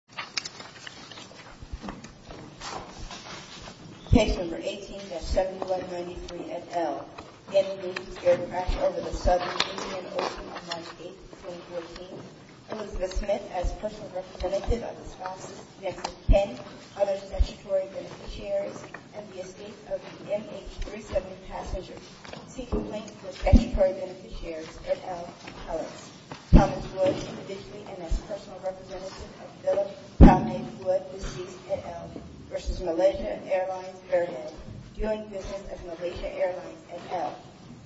Indian Ocean on March 8, 2014. Elizabeth Smith, as personal representative of the sponsors, Nancy King, other statutory beneficiaries, and the estate of the MH370 passenger, seek to determine how they would be seized at L versus Malaysia Airlines Airhead, doing business at Malaysia Airlines at L.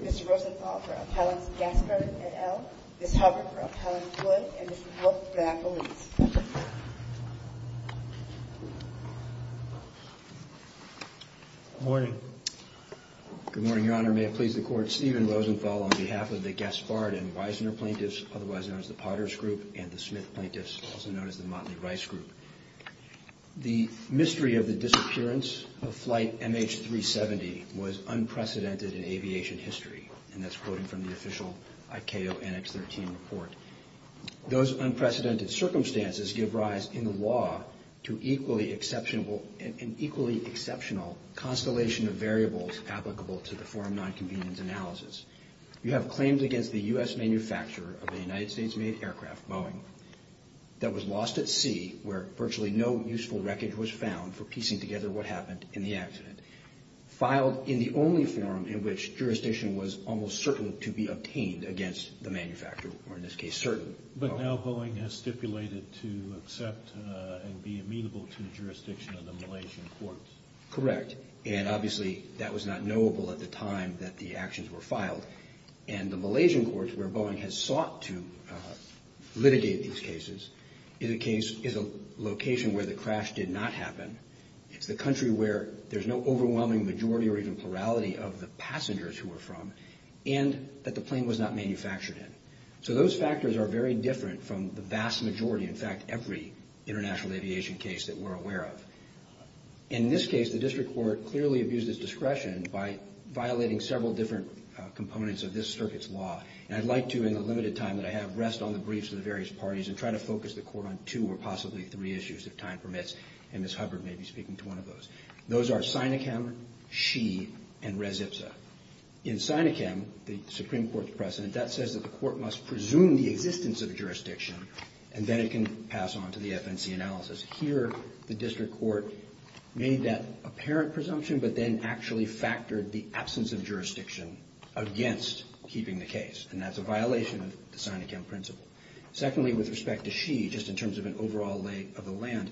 Mr. Rosenthal for Appellants Gaspard at L, Ms. Hubbard for Appellants Wood and Mr. Wilk for Appellants. Good morning. Good morning, Your Honor. May it please the court, Stephen Rosenthal on behalf of the Gaspard and Wiesner plaintiffs, otherwise known as the Motley Rice Group. The mystery of the disappearance of flight MH370 was unprecedented in aviation history, and that's quoted from the official ICAO Annex 13 report. Those unprecedented circumstances give rise in the law to an equally exceptional constellation of variables applicable to the Form 9 Convenience Analysis. You have claims against the U.S. manufacturer of a United States-made aircraft, Boeing, that was lost at sea where virtually no useful wreckage was found for piecing together what happened in the accident. Filed in the only forum in which jurisdiction was almost certain to be obtained against the manufacturer, or in this case, certain. But now Boeing has stipulated to accept and be amenable to jurisdiction of the Malaysian courts. Correct. And obviously, that was not knowable at the time that the litigation of these cases is a location where the crash did not happen. It's the country where there's no overwhelming majority or even plurality of the passengers who were from, and that the plane was not manufactured in. So those factors are very different from the vast majority, in fact, every international aviation case that we're aware of. In this case, the district court clearly abused its discretion by violating several different components of this circuit's law. And I'd like to, in the limited time that I have, rest on the briefs of the various parties and try to focus the court on two or possibly three issues, if time permits. And Ms. Hubbard may be speaking to one of those. Those are Synakam, Shee, and Rezipsa. In Synakam, the Supreme Court's precedent, that says that the court must presume the existence of jurisdiction, and then it can pass on to the FNC analysis. Here, the district court made that apparent presumption, but then actually factored the against keeping the case, and that's a violation of the Synakam principle. Secondly, with respect to Shee, just in terms of an overall lay of the land,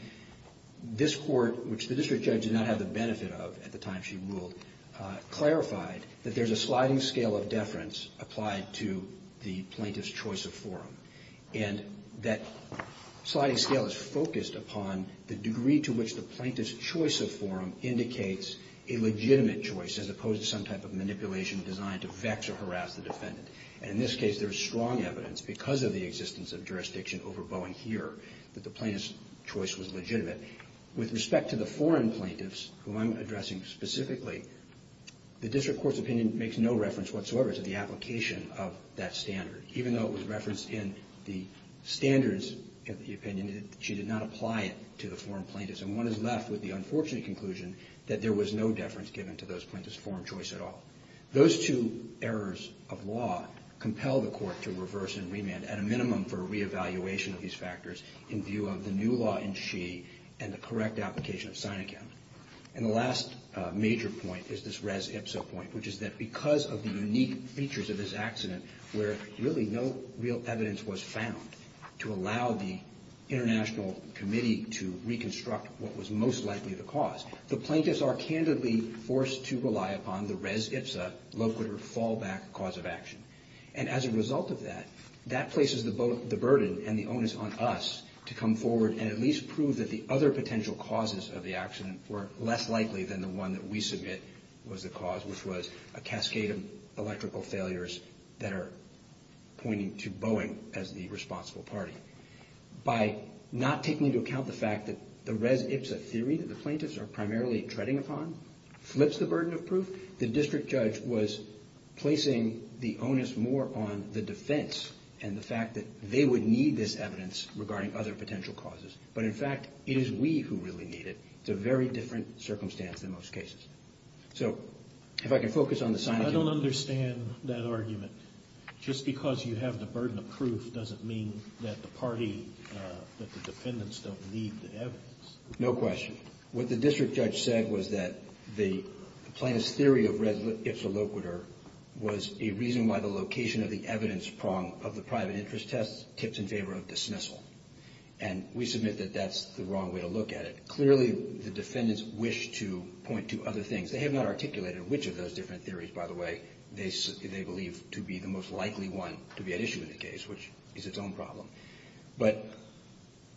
this court, which the district judge did not have the benefit of at the time she ruled, clarified that there's a sliding scale of deference applied to the plaintiff's choice of forum. And that sliding scale is focused upon the degree to which the plaintiff's choice of forum indicates a legitimate choice, as to harass the defendant. And in this case, there's strong evidence, because of the existence of jurisdiction over Bowen here, that the plaintiff's choice was legitimate. With respect to the foreign plaintiffs, whom I'm addressing specifically, the district court's opinion makes no reference whatsoever to the application of that standard, even though it was referenced in the standards of the opinion that she did not apply it to the foreign plaintiffs. And one is left with the unfortunate conclusion that there was no deference given to those errors of law compel the court to reverse and remand, at a minimum for reevaluation of these factors in view of the new law in Shee and the correct application of Synakam. And the last major point is this res ipsa point, which is that because of the unique features of this accident, where really no real evidence was found to allow the international committee to reconstruct what was most likely the cause, the plaintiffs are candidly forced to rely upon the res ipsa, low-quit or fallback cause of action. And as a result of that, that places the burden and the onus on us to come forward and at least prove that the other potential causes of the accident were less likely than the one that we submit was the cause, which was a cascade of electrical failures that are pointing to Boeing as the responsible party. By not taking into account the fact that the res ipsa theory that the burden of proof, the district judge was placing the onus more on the defense and the fact that they would need this evidence regarding other potential causes. But in fact, it is we who really need it. It's a very different circumstance than most cases. So if I can focus on the Synakam. I don't understand that argument. Just because you have the burden of proof doesn't mean that the party, that the defendants don't need the evidence. No question. What the district judge said was that the plaintiff's theory of res ipsa low-quit or was a reason why the location of the evidence prong of the private interest test tips in favor of dismissal. And we submit that that's the wrong way to look at it. Clearly, the defendants wish to point to other things. They have not articulated which of those different theories, by the way, they believe to be the most likely one to be at issue in the case, which is its own problem. But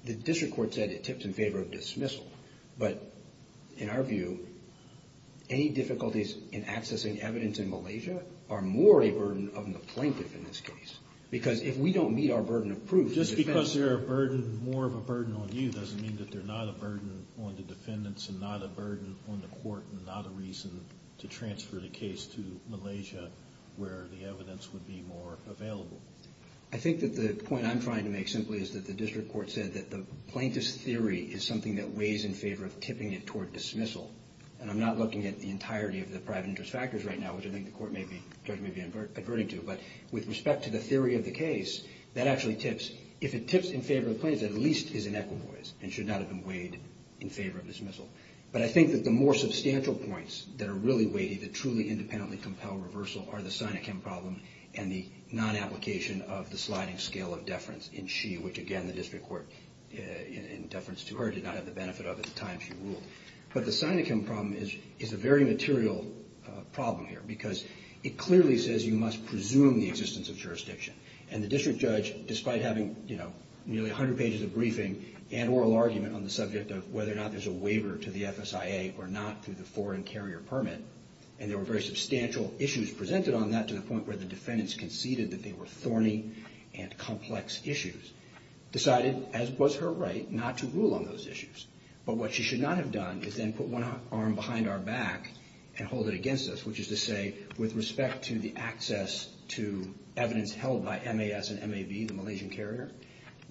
the district court said it tips in favor of dismissal. But in our view, any difficulties in accessing evidence in Malaysia are more a burden on the plaintiff in this case. Because if we don't meet our burden of proof. Just because they're a burden, more of a burden on you doesn't mean that they're not a burden on the defendants and not a burden on the court and not a reason to transfer the case to Malaysia where the evidence would be more available. I think that the point I'm trying to make simply is that the district court said that the plaintiff's theory is something that weighs in favor of tipping it toward dismissal. And I'm not looking at the entirety of the private interest factors right now, which I think the court may be, the judge may be adverting to. But with respect to the theory of the case, that actually tips, if it tips in favor of the plaintiffs, at least is in equivoys and should not have been weighed in favor of dismissal. But I think that the more substantial points that are really weighty that truly independently compel reversal are the Sinachem problem and the non-application of the sliding scale of in deference to her, did not have the benefit of at the time she ruled. But the Sinachem problem is a very material problem here because it clearly says you must presume the existence of jurisdiction. And the district judge, despite having nearly 100 pages of briefing and oral argument on the subject of whether or not there's a waiver to the FSIA or not through the foreign carrier permit, and there were very substantial issues presented on that to the point where the defendants conceded that they were thorny and complex issues, decided, as was her right, not to rule on those issues. But what she should not have done is then put one arm behind our back and hold it against us, which is to say, with respect to the access to evidence held by MAS and MAB, the Malaysian carrier,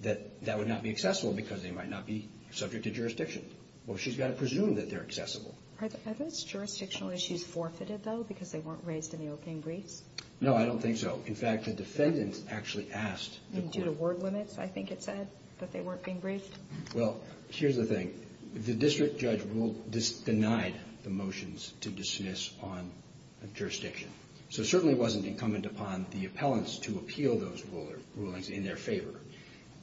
that that would not be accessible because they might not be subject to jurisdiction. Well, she's got to presume that they're accessible. Are those jurisdictional issues forfeited, though, because they weren't raised in the opening briefs? No, I don't think so. In fact, the defendants actually asked the court. And due to word limits, I think it said that they weren't being briefed? Well, here's the thing. The district judge denied the motions to dismiss on jurisdiction. So it certainly wasn't incumbent upon the appellants to appeal those rulings in their favor.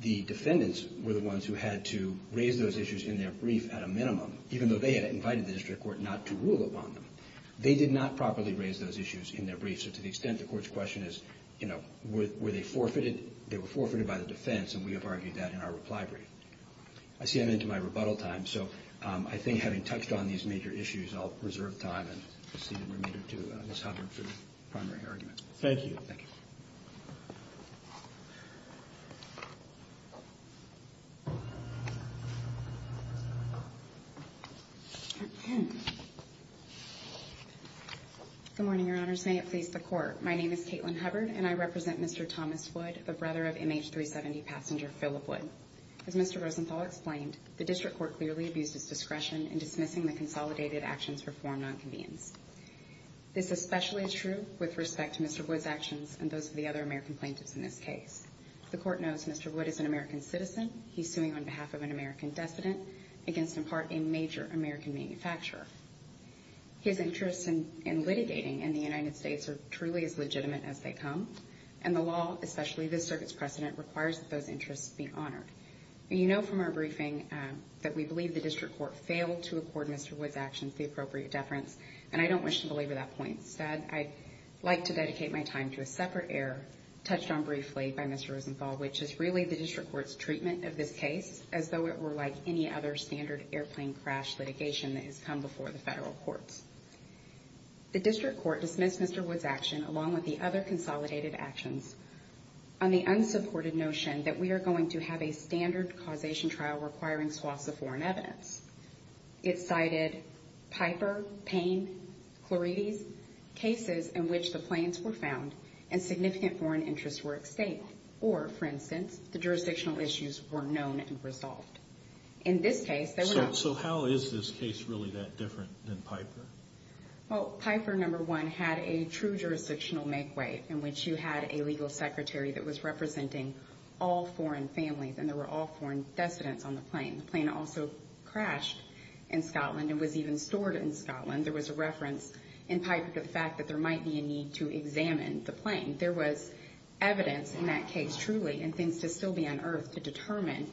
The defendants were the ones who had to raise those issues in their brief at a minimum, even though they had invited the district court not to rule upon them. They did not properly raise those issues in their briefs. So to the extent the court's question is, you know, were they forfeited? They were forfeited by the defense, and we have argued that in our reply brief. I see I'm into my rebuttal time. So I think having touched on these major issues, I'll reserve time and see the remainder to Ms. Hubbard for the primary argument. Thank you. Thank you. Good morning, Your Honors. May it please the Court. My name is Caitlin Hubbard, and I represent Mr. Thomas Wood, the brother of MH370 passenger Phillip Wood. As Mr. Rosenthal explained, the district court clearly abused its discretion in dismissing the consolidated actions for This especially is true with respect to Mr. Wood's actions and those of the other American plaintiffs in this case. The court knows Mr. Wood is an American citizen. He's suing on behalf of an American decedent against, in part, a major American manufacturer. His interests in litigating in the United States are truly as legitimate as they come, and the law, especially this circuit's precedent, requires that those interests be honored. You know from our briefing that we believe the district court failed to accord Mr. Wood's appropriate deference, and I don't wish to belabor that point. Instead, I'd like to dedicate my time to a separate error touched on briefly by Mr. Rosenthal, which is really the district court's treatment of this case as though it were like any other standard airplane crash litigation that has come before the federal courts. The district court dismissed Mr. Wood's action, along with the other consolidated actions, on the unsupported notion that we are going to have a standard causation trial requiring swaths of foreign evidence. It cited Piper, Payne, Chlorides, cases in which the planes were found and significant foreign interests were at stake, or, for instance, the jurisdictional issues were known and resolved. In this case, they were not. So how is this case really that different than Piper? Well, Piper, number one, had a true jurisdictional make-way in which you had a legal secretary that was representing all foreign families, and there were all foreign descendants on the plane. The plane also crashed in Scotland and was even stored in Scotland. There was a reference in Piper to the fact that there might be a need to examine the plane. There was evidence in that case, truly, and things to still be unearthed to determine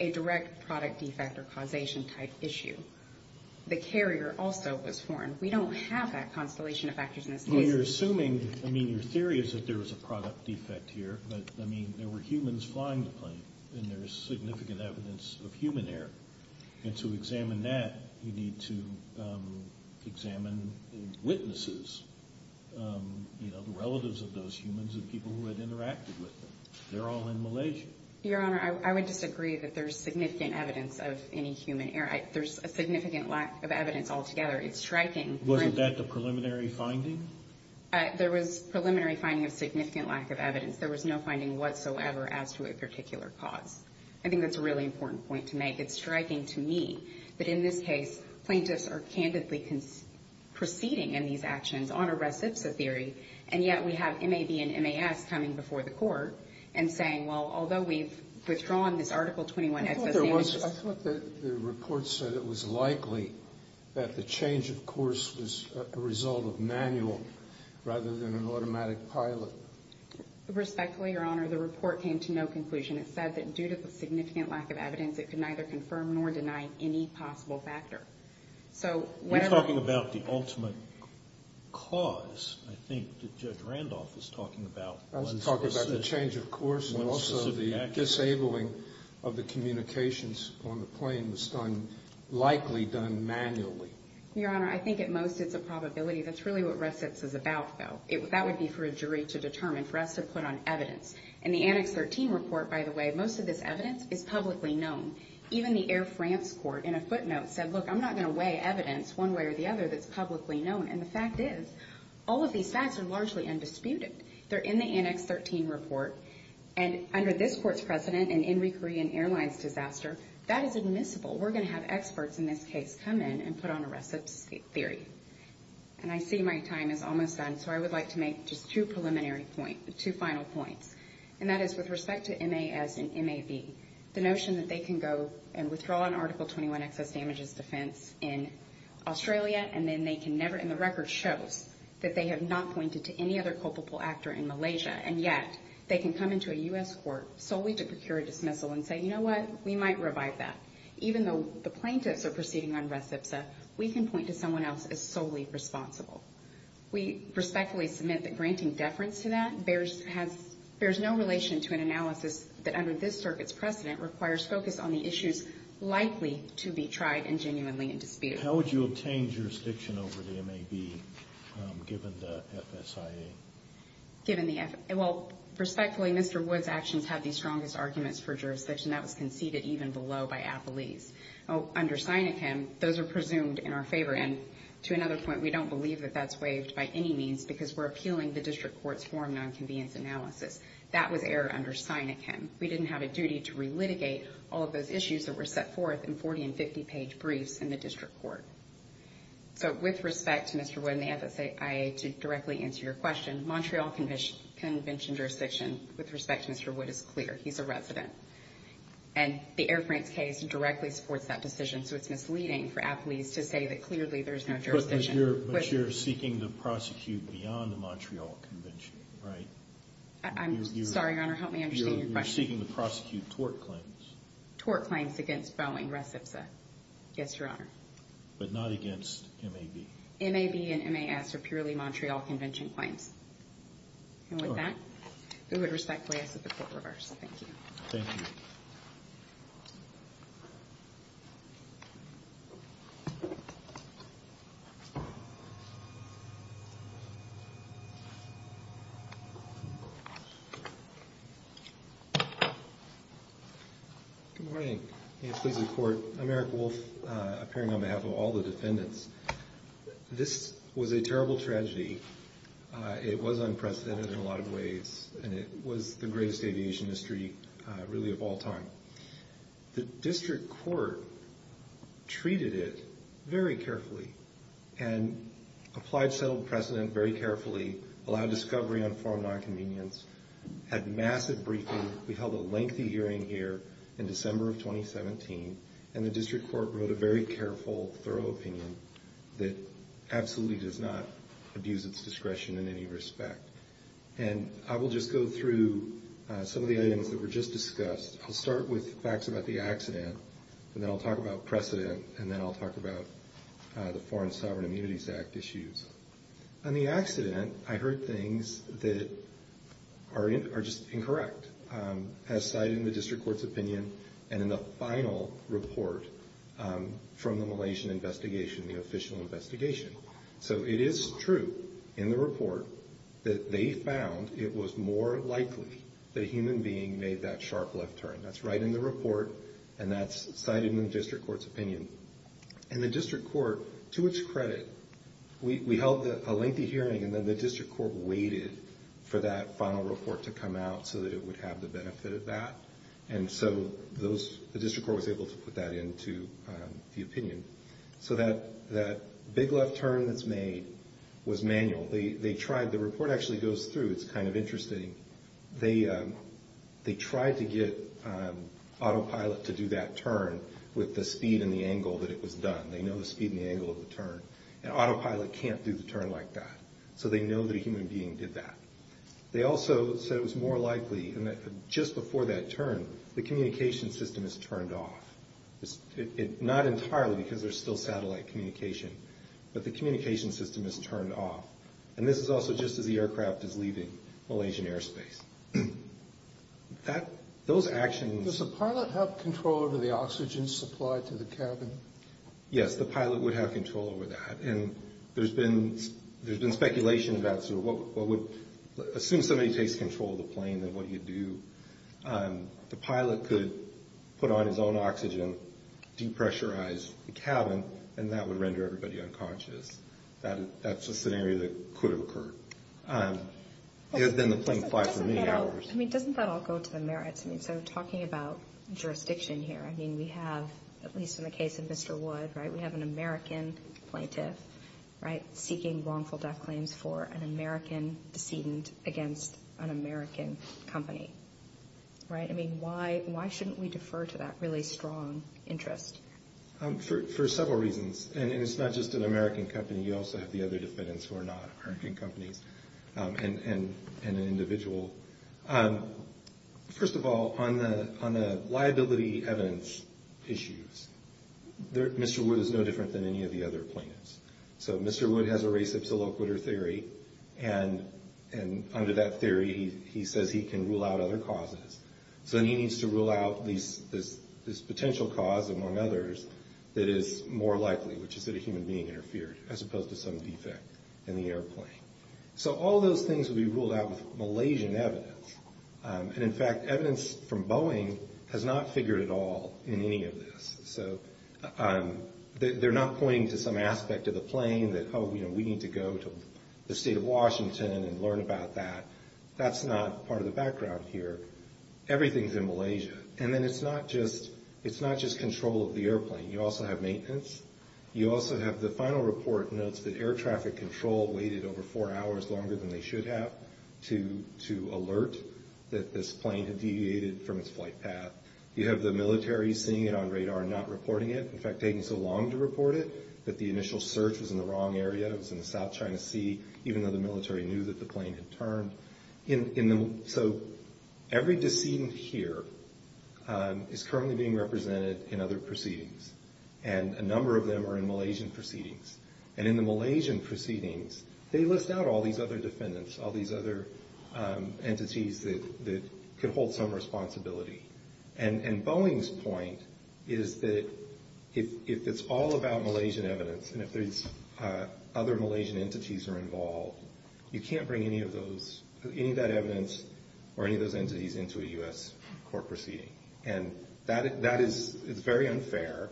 a direct product defect or causation-type issue. The carrier also was foreign. We don't have that constellation of factors in this case. Well, you're assuming, I mean, your theory is that there was a product defect here, but, I mean, there were humans flying the plane, and there's significant evidence of human error. And to examine that, you need to examine witnesses, you know, the relatives of those humans and people who had interacted with them. They're all in Malaysia. Your Honor, I would disagree that there's significant evidence of any human error. There's a significant lack of evidence altogether. It's striking. Wasn't that the preliminary finding? There was preliminary finding of significant lack of evidence. There was no finding whatsoever as to a particular cause. I think that's a really important point to make. It's striking to me that in this case, plaintiffs are candidly proceeding in these actions on a recipsa theory, and yet we have MAB and MAS coming before the court and saying, well, although we've withdrawn this Article 21-XS amnesty... Your Honor, I thought the report said it was likely that the change of course was a result of manual rather than an automatic pilot. Respectfully, Your Honor, the report came to no conclusion. It said that due to the significant lack of evidence, it could neither confirm nor deny any possible factor. So, whatever... You're talking about the ultimate cause, I think, that Judge Randolph is talking about. I was talking about the change of course, and also the disabling of the communications on the plane was likely done manually. Your Honor, I think at most it's a probability. That's really what recips is about, though. That would be for a jury to determine, for us to put on evidence. In the Annex 13 report, by the way, most of this evidence is publicly known. Even the Air France court, in a footnote, said, look, I'm not going to weigh evidence one way or the other that's publicly known. And the fact is, all of these facts are largely undisputed. They're in the Annex 13 report, and under this court's precedent, an Inri Korean Airlines disaster, that is admissible. We're going to have experts in this case come in and put on a recip theory. And I see my time is almost done, so I would like to make just two preliminary points, two final points. And that is, with respect to MAS and MAV, the notion that they can go and withdraw an Article 21 excess damages defense in Australia, and then they can never and the record shows that they have not pointed to any other culpable actor in Malaysia. And yet, they can come into a U.S. court solely to procure a dismissal and say, you know what? We might revive that. Even though the plaintiffs are proceeding on recipsa, we can point to someone else as solely responsible. We respectfully submit that granting deference to that bears no relation to an analysis that, under this circuit's precedent, requires focus on the issues likely to be tried and genuinely in dispute. How would you obtain jurisdiction over the MAV, given the FSIA? Well, respectfully, Mr. Wood's actions have the strongest arguments for jurisdiction. That was conceded even below by Appleese. Under Sinekim, those are presumed in our favor. And to another point, we don't believe that that's waived by any means because we're appealing the district court's form nonconvenience analysis. That was error under Sinekim. We didn't have a duty to relitigate all of those issues that were set forth in 40- and 50-page briefs in the district court. So with respect to Mr. Wood and the FSIA, to directly answer your question, Montreal Convention jurisdiction, with respect to Mr. Wood, is clear. He's a resident. And the Air France case directly supports that decision, so it's misleading for Appleese to say that clearly there's no jurisdiction. But you're seeking to prosecute beyond the Montreal Convention, right? I'm sorry, Your Honor, help me understand your question. You're seeking to prosecute tort claims. Tort claims against Boeing, Recipsa. Yes, Your Honor. But not against MAV. MAV and MAS are purely Montreal Convention claims. And with that, we would respectfully ask that the court reverse. Thank you. Thank you. Good morning. May it please the court. I'm Eric Wolf, appearing on behalf of all the defendants. This was a terrible tragedy. It was unprecedented in a lot of ways. And it was the greatest aviation history, really, of all time. The district court treated it very carefully and applied settled precedent very carefully, allowed discovery on foreign nonconvenience, had massive briefing. We held a lengthy hearing here in December of 2017. And the district court wrote a very careful, thorough opinion that absolutely does not abuse its discretion in any respect. And I will just go through some of the items that were just discussed. I'll start with facts about the accident, and then I'll talk about precedent, and then I'll talk about the Foreign Sovereign Immunities Act issues. On the accident, I heard things that are just incorrect as cited in the district court's opinion and in the final report from the Malaysian investigation, the official investigation. So it is true in the report that they found it was more likely that a human being made that sharp left turn. That's right in the report, and that's cited in the district court's opinion. And the district court, to its credit, we held a lengthy hearing, and then the district court waited for that final report to come out so that it would have the benefit of that. And so the district court was able to put that into the opinion. So that big left turn that's made was manual. The report actually goes through. It's kind of interesting. They tried to get autopilot to do that turn with the speed and the angle that it was done. They know the speed and the angle of the turn, and autopilot can't do the turn like that. So they know that a human being did that. They also said it was more likely, just before that turn, the communication system is turned off. Not entirely because there's still satellite communication, but the communication system is turned off. And this is also just as the aircraft is leaving Malaysian airspace. Those actions... Does the pilot have control over the oxygen supply to the cabin? Yes, the pilot would have control over that. And there's been speculation about what would... Assume somebody takes control of the plane, then what do you do? The pilot could put on his own oxygen, depressurize the cabin, and that would render everybody unconscious. That's a scenario that could have occurred. Then the plane flies for many hours. Doesn't that all go to the merits? Talking about jurisdiction here, we have, at least in the case of Mr. Wood, we have an American plaintiff seeking wrongful death claims for an American decedent against an American company. Why shouldn't we defer to that really strong interest? For several reasons. And it's not just an American company. You also have the other defendants who are not American companies and an individual. First of all, on the liability evidence issues, Mr. Wood is no different than any of the other plaintiffs. So Mr. Wood has a res ipsa loquitur theory. And under that theory, he says he can rule out other causes. So he needs to rule out this potential cause, among others, that is more likely, which is that a human being interfered as opposed to some defect in the airplane. So all those things would be ruled out with Malaysian evidence. And, in fact, evidence from Boeing has not figured at all in any of this. So they're not pointing to some aspect of the plane that, oh, we need to go to the state of Washington and learn about that. That's not part of the background here. Everything is in Malaysia. And then it's not just control of the airplane. You also have maintenance. You also have the final report notes that air traffic control waited over four hours longer than they should have to alert that this plane had deviated from its flight path. You have the military seeing it on radar and not reporting it. In fact, taking so long to report it that the initial search was in the wrong area. It was in the South China Sea, even though the military knew that the plane had turned. So every decedent here is currently being represented in other proceedings, and a number of them are in Malaysian proceedings. And in the Malaysian proceedings, they list out all these other defendants, all these other entities that could hold some responsibility. And Boeing's point is that if it's all about Malaysian evidence and if there's other Malaysian entities that are involved, you can't bring any of that evidence or any of those entities into a U.S. court proceeding. And that is very unfair,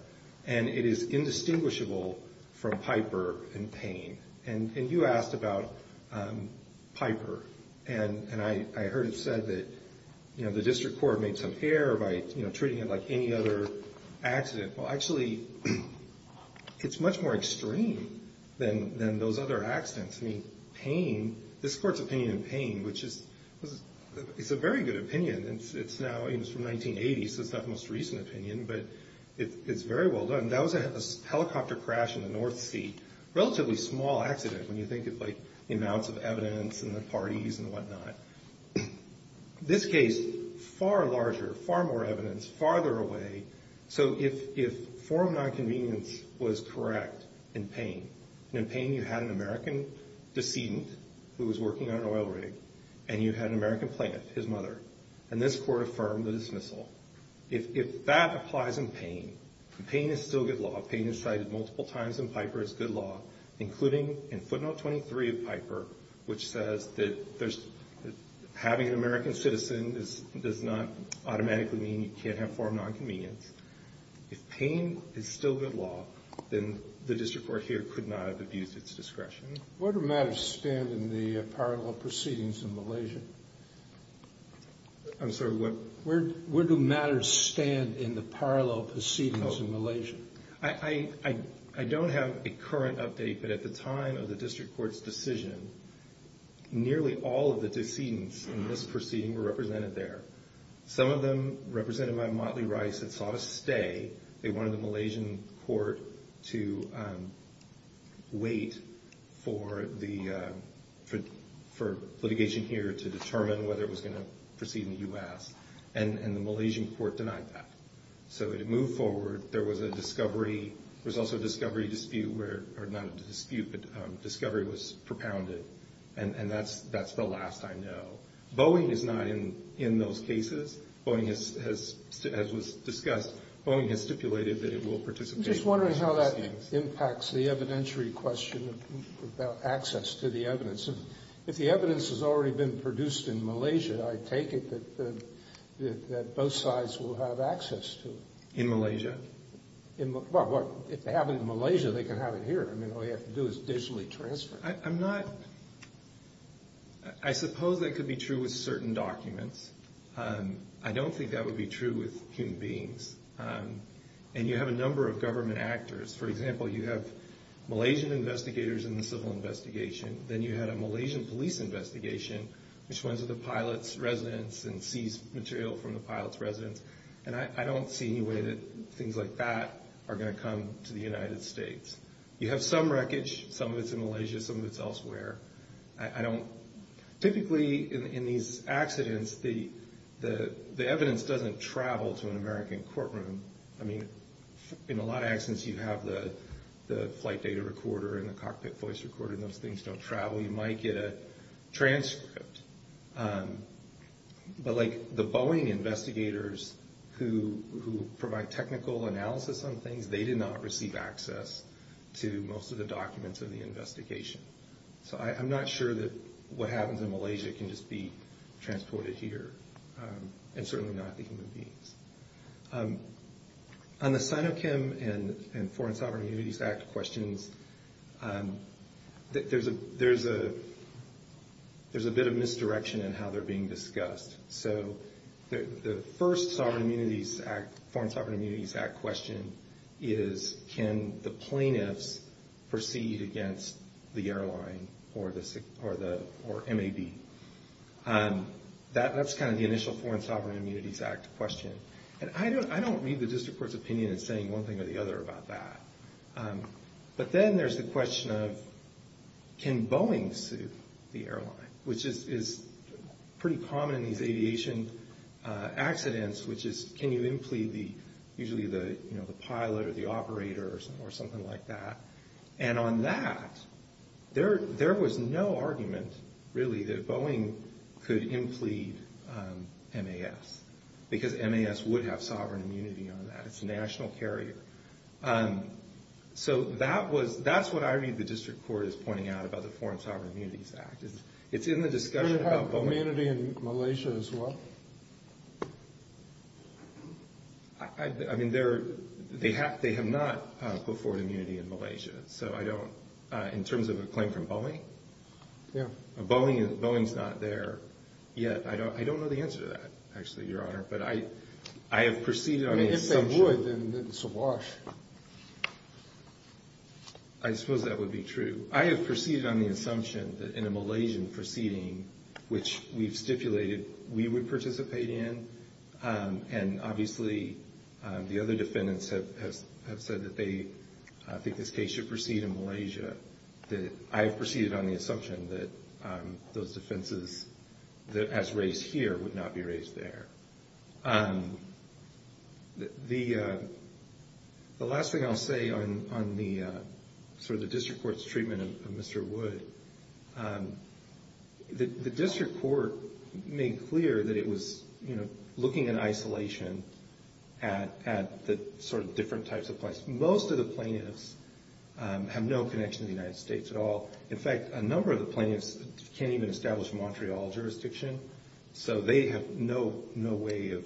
and it is indistinguishable from Piper and Payne. And you asked about Piper, and I heard it said that the district court made some error by treating it like any other accident. Well, actually, it's much more extreme than those other accidents. I mean, Payne, this court's opinion in Payne, which is a very good opinion. It's from 1980, so it's not the most recent opinion, but it's very well done. That was a helicopter crash in the North Sea, relatively small accident when you think of, like, the amounts of evidence and the parties and whatnot. This case, far larger, far more evidence, farther away. So if form nonconvenience was correct in Payne, and in Payne you had an American decedent who was working on an oil rig, and you had an American plaintiff, his mother, and this court affirmed the dismissal. If that applies in Payne, Payne is still good law. Payne is cited multiple times in Piper as good law, including in footnote 23 of Piper, which says that having an American citizen does not automatically mean you can't have form nonconvenience. If Payne is still good law, then the district court here could not have abused its discretion. Where do matters stand in the parallel proceedings in Malaysia? I'm sorry, what? Where do matters stand in the parallel proceedings in Malaysia? I don't have a current update, but at the time of the district court's decision, nearly all of the decedents in this proceeding were represented there. Some of them represented by Motley Rice that saw a stay. They wanted the Malaysian court to wait for litigation here to determine whether it was going to proceed in the U.S., and the Malaysian court denied that. So it moved forward. There was also a discovery dispute, or not a dispute, but discovery was propounded, and that's the last I know. Boeing is not in those cases. Boeing has, as was discussed, Boeing has stipulated that it will participate in the proceedings. I'm just wondering how that impacts the evidentiary question about access to the evidence. If the evidence has already been produced in Malaysia, I take it that both sides will have access to it. In Malaysia? Well, if they have it in Malaysia, they can have it here. I mean, all you have to do is digitally transfer it. I'm not, I suppose that could be true with certain documents. I don't think that would be true with human beings. And you have a number of government actors. For example, you have Malaysian investigators in the civil investigation. Then you had a Malaysian police investigation, which went to the pilot's residence and seized material from the pilot's residence. And I don't see any way that things like that are going to come to the United States. You have some wreckage. Some of it's in Malaysia. Some of it's elsewhere. Typically, in these accidents, the evidence doesn't travel to an American courtroom. I mean, in a lot of accidents, you have the flight data recorder and the cockpit voice recorder, and those things don't travel. You might get a transcript. But, like, the Boeing investigators who provide technical analysis on things, they did not receive access to most of the documents of the investigation. So I'm not sure that what happens in Malaysia can just be transported here, and certainly not the human beings. On the Sinochem and Foreign Sovereign Immunities Act questions, there's a bit of misdirection in how they're being discussed. So the first Foreign Sovereign Immunities Act question is, can the plaintiffs proceed against the airline or MAB? That's kind of the initial Foreign Sovereign Immunities Act question. And I don't read the district court's opinion as saying one thing or the other about that. But then there's the question of, can Boeing sue the airline, which is pretty common in these aviation accidents, which is can you implead usually the pilot or the operator or something like that. And on that, there was no argument, really, that Boeing could implead MAS, because MAS would have sovereign immunity on that. It's a national carrier. So that's what I read the district court is pointing out about the Foreign Sovereign Immunities Act. It's in the discussion about Boeing. Do they have immunity in Malaysia as well? I mean, they have not put forward immunity in Malaysia. So I don't – in terms of a claim from Boeing? Yeah. Boeing is not there yet. I don't know the answer to that, actually, Your Honor. But I have proceeded on the assumption – I mean, if they would, then it's a wash. I suppose that would be true. I have proceeded on the assumption that in a Malaysian proceeding, which we've stipulated we would participate in, and obviously the other defendants have said that they think this case should proceed in Malaysia. I have proceeded on the assumption that those defenses, as raised here, would not be raised there. The last thing I'll say on the – sort of the district court's treatment of Mr. Wood, the district court made clear that it was looking in isolation at the sort of different types of plaintiffs. Most of the plaintiffs have no connection to the United States at all. In fact, a number of the plaintiffs can't even establish Montreal jurisdiction, so they have no way of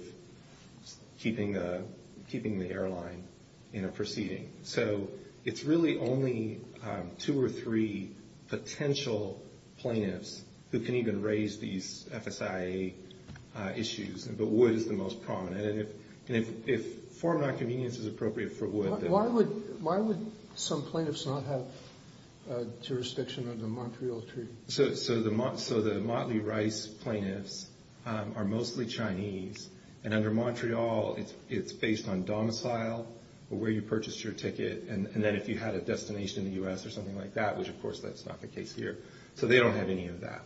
keeping the airline in a proceeding. So it's really only two or three potential plaintiffs who can even raise these FSIA issues, but Wood is the most prominent. And if form nonconvenience is appropriate for Wood, then – Why would some plaintiffs not have jurisdiction under the Montreal Treaty? So the Motley Rice plaintiffs are mostly Chinese, and under Montreal it's based on domicile, where you purchased your ticket, and then if you had a destination in the U.S. or something like that, which of course that's not the case here. So they don't have any of that.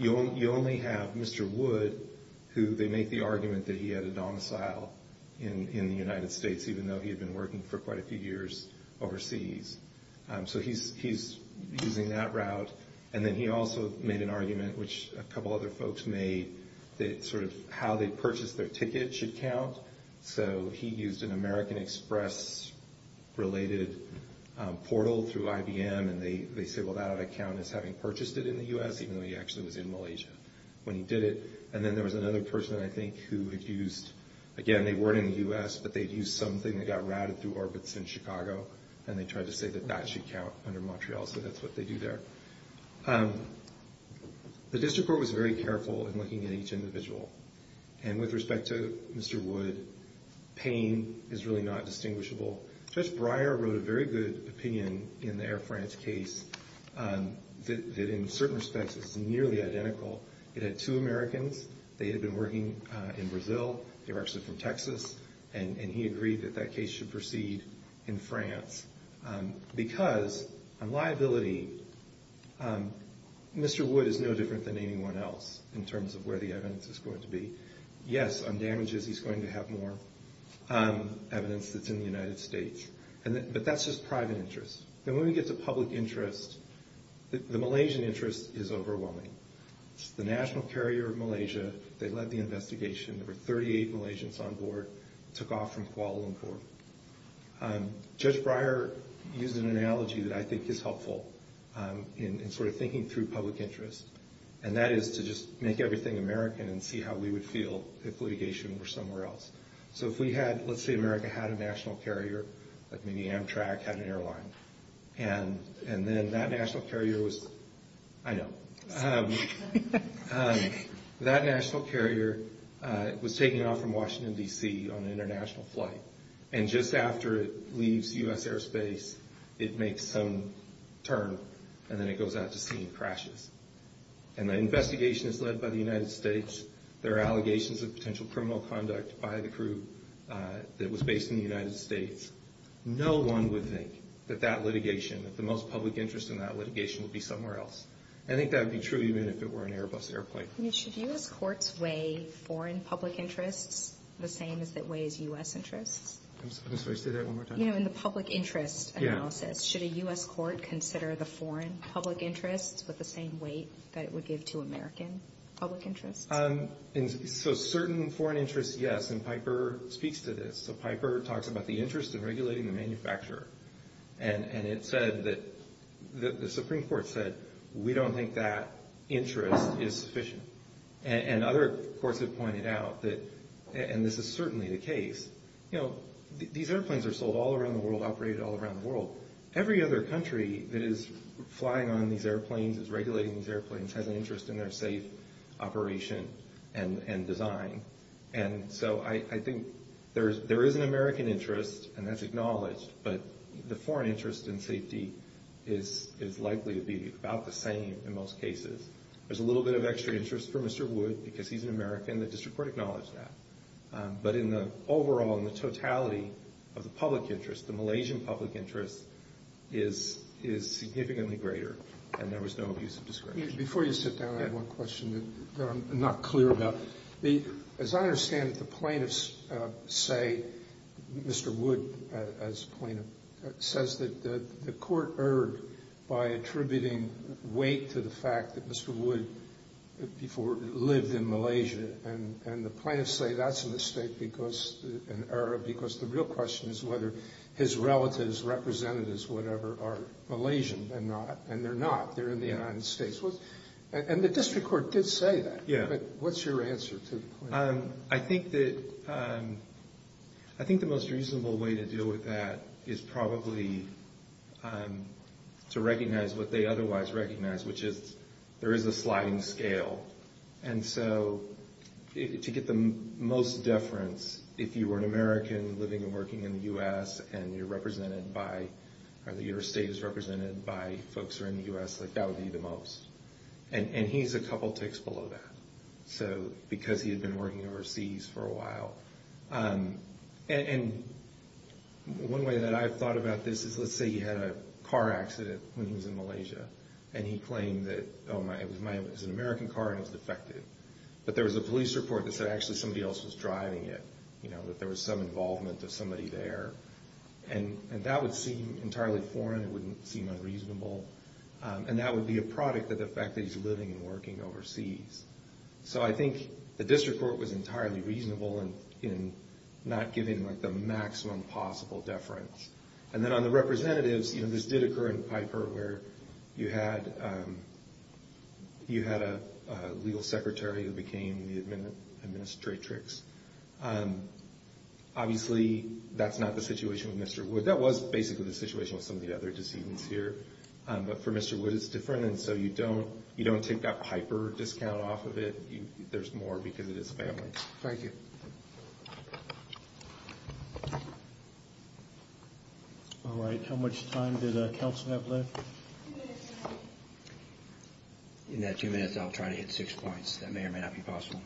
You only have Mr. Wood, who they make the argument that he had a domicile in the United States, even though he had been working for quite a few years overseas. So he's using that route. And then he also made an argument, which a couple other folks made, that sort of how they purchased their ticket should count. So he used an American Express-related portal through IBM, and they say, well, that would count as having purchased it in the U.S., even though he actually was in Malaysia when he did it. And then there was another person, I think, who had used – again, they weren't in the U.S., but they had used something that got routed through orbits in Chicago, and they tried to say that that should count under Montreal, so that's what they do there. The district court was very careful in looking at each individual. And with respect to Mr. Wood, pain is really not distinguishable. Judge Breyer wrote a very good opinion in the Air France case that in certain respects is nearly identical. It had two Americans. They had been working in Brazil. They were actually from Texas, and he agreed that that case should proceed in France. Because on liability, Mr. Wood is no different than anyone else in terms of where the evidence is going to be. Yes, on damages, he's going to have more evidence that's in the United States, but that's just private interest. Then when we get to public interest, the Malaysian interest is overwhelming. The National Carrier of Malaysia, they led the investigation. There were 38 Malaysians on board. It took off from Kuala Lumpur. Judge Breyer used an analogy that I think is helpful in sort of thinking through public interest, and that is to just make everything American and see how we would feel if litigation were somewhere else. So if we had – let's say America had a national carrier, like maybe Amtrak had an airline, and then that national carrier was – I know. That national carrier was taking off from Washington, D.C. on an international flight, and just after it leaves U.S. airspace, it makes some turn, and then it goes out to sea and crashes. And the investigation is led by the United States. There are allegations of potential criminal conduct by the crew that was based in the United States. No one would think that that litigation, that the most public interest in that litigation would be somewhere else. I think that would be true even if it were an Airbus airplane. I mean, should U.S. courts weigh foreign public interests the same as it weighs U.S. interests? I'm sorry, say that one more time. You know, in the public interest analysis, should a U.S. court consider the foreign public interests with the same weight that it would give to American public interests? So certain foreign interests, yes, and Piper speaks to this. So Piper talks about the interest in regulating the manufacturer, and it said that – the Supreme Court said we don't think that interest is sufficient. And other courts have pointed out that – and this is certainly the case. You know, these airplanes are sold all around the world, operated all around the world. Every other country that is flying on these airplanes, is regulating these airplanes, has an interest in their safe operation and design. And so I think there is an American interest, and that's acknowledged, but the foreign interest in safety is likely to be about the same in most cases. There's a little bit of extra interest for Mr. Wood because he's an American. The district court acknowledged that. But in the overall, in the totality of the public interest, the Malaysian public interest is significantly greater, and there was no abuse of discretion. Before you sit down, I have one question that I'm not clear about. As I understand it, the plaintiffs say, Mr. Wood as plaintiff, says that the court erred by attributing weight to the fact that Mr. Wood lived in Malaysia. And the plaintiffs say that's a mistake because – an error because the real question is whether his relatives, representatives, whatever, are Malaysian and not. They're in the United States. And the district court did say that. Yeah. But what's your answer to the plaintiff? I think that – I think the most reasonable way to deal with that is probably to recognize what they otherwise recognize, which is there is a sliding scale. And so to get the most deference, if you were an American living and working in the U.S. and you're represented by – or your state is represented by folks who are in the U.S., that would be the most. And he's a couple ticks below that because he had been working overseas for a while. And one way that I've thought about this is let's say he had a car accident when he was in Malaysia and he claimed that, oh, it was an American car and it was defective. But there was a police report that said actually somebody else was driving it, that there was some involvement of somebody there. And that would seem entirely foreign. It wouldn't seem unreasonable. And that would be a product of the fact that he's living and working overseas. So I think the district court was entirely reasonable in not giving the maximum possible deference. And then on the representatives, this did occur in Piper where you had a legal secretary who became the administratrix. Obviously, that's not the situation with Mr. Wood. That was basically the situation with some of the other decedents here. But for Mr. Wood, it's different. And so you don't take that Piper discount off of it. There's more because it is family. Thank you. All right, how much time did counsel have left? In that two minutes, I'll try to hit six points. That may or may not be possible.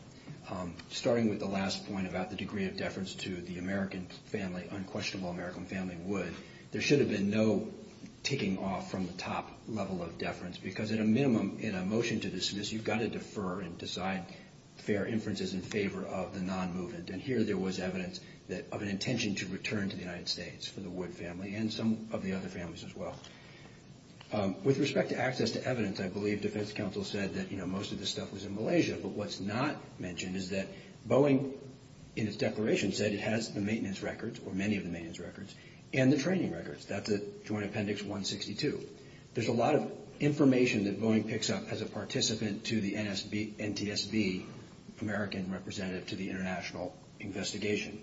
Starting with the last point about the degree of deference to the American family, unquestionable American family, Wood, there should have been no taking off from the top level of deference because at a minimum in a motion to dismiss, you've got to defer and decide fair inferences in favor of the non-movement. And here there was evidence of an intention to return to the United States for the Wood family With respect to access to evidence, I believe defense counsel said that most of this stuff was in Malaysia. But what's not mentioned is that Boeing, in its declaration, said it has the maintenance records, or many of the maintenance records, and the training records. That's at Joint Appendix 162. There's a lot of information that Boeing picks up as a participant to the NTSB, American representative to the international investigation.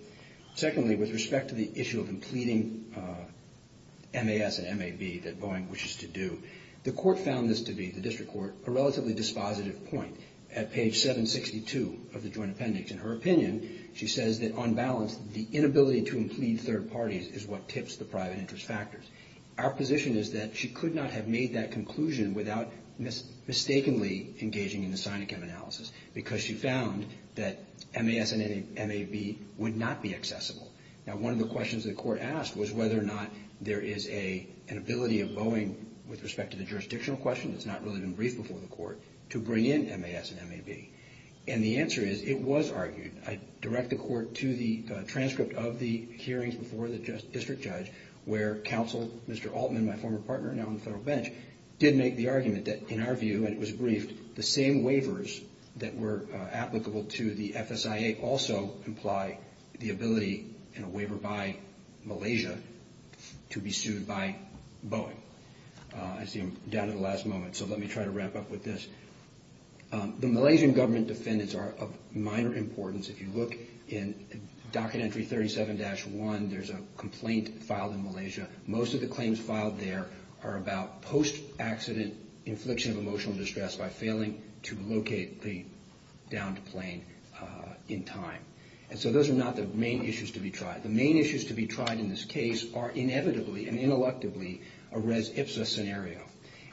Secondly, with respect to the issue of completing MAS and MAB that Boeing wishes to do, the court found this to be, the district court, a relatively dispositive point at page 762 of the Joint Appendix. In her opinion, she says that on balance, the inability to implede third parties is what tips the private interest factors. Our position is that she could not have made that conclusion without mistakenly engaging in the SINICM analysis because she found that MAS and MAB would not be accessible. Now, one of the questions the court asked was whether or not there is an ability of Boeing, with respect to the jurisdictional question that's not really been briefed before the court, to bring in MAS and MAB. And the answer is it was argued. I direct the court to the transcript of the hearings before the district judge where counsel, Mr. Altman, my former partner now on the federal bench, did make the argument that, in our view, and it was briefed, the same waivers that were applicable to the FSIA may also imply the ability in a waiver by Malaysia to be sued by Boeing. I see I'm down to the last moment, so let me try to wrap up with this. The Malaysian government defendants are of minor importance. If you look in Docket Entry 37-1, there's a complaint filed in Malaysia. Most of the claims filed there are about post-accident infliction of emotional distress by failing to locate the downed plane in time. And so those are not the main issues to be tried. The main issues to be tried in this case are inevitably and intellectually a res ipsa scenario,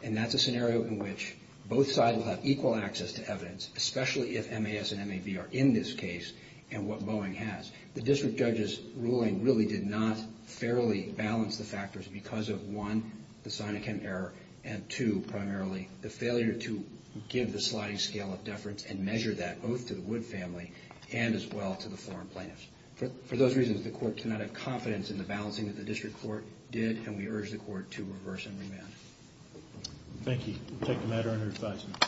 and that's a scenario in which both sides will have equal access to evidence, especially if MAS and MAB are in this case and what Boeing has. The district judge's ruling really did not fairly balance the factors because of, one, the sign of chem error and, two, primarily the failure to give the sliding scale of deference and measure that both to the Wood family and as well to the foreign plaintiffs. For those reasons, the court cannot have confidence in the balancing that the district court did, and we urge the court to reverse and remand. Thank you. We'll take the matter under advisement. For more information visit www.fema.gov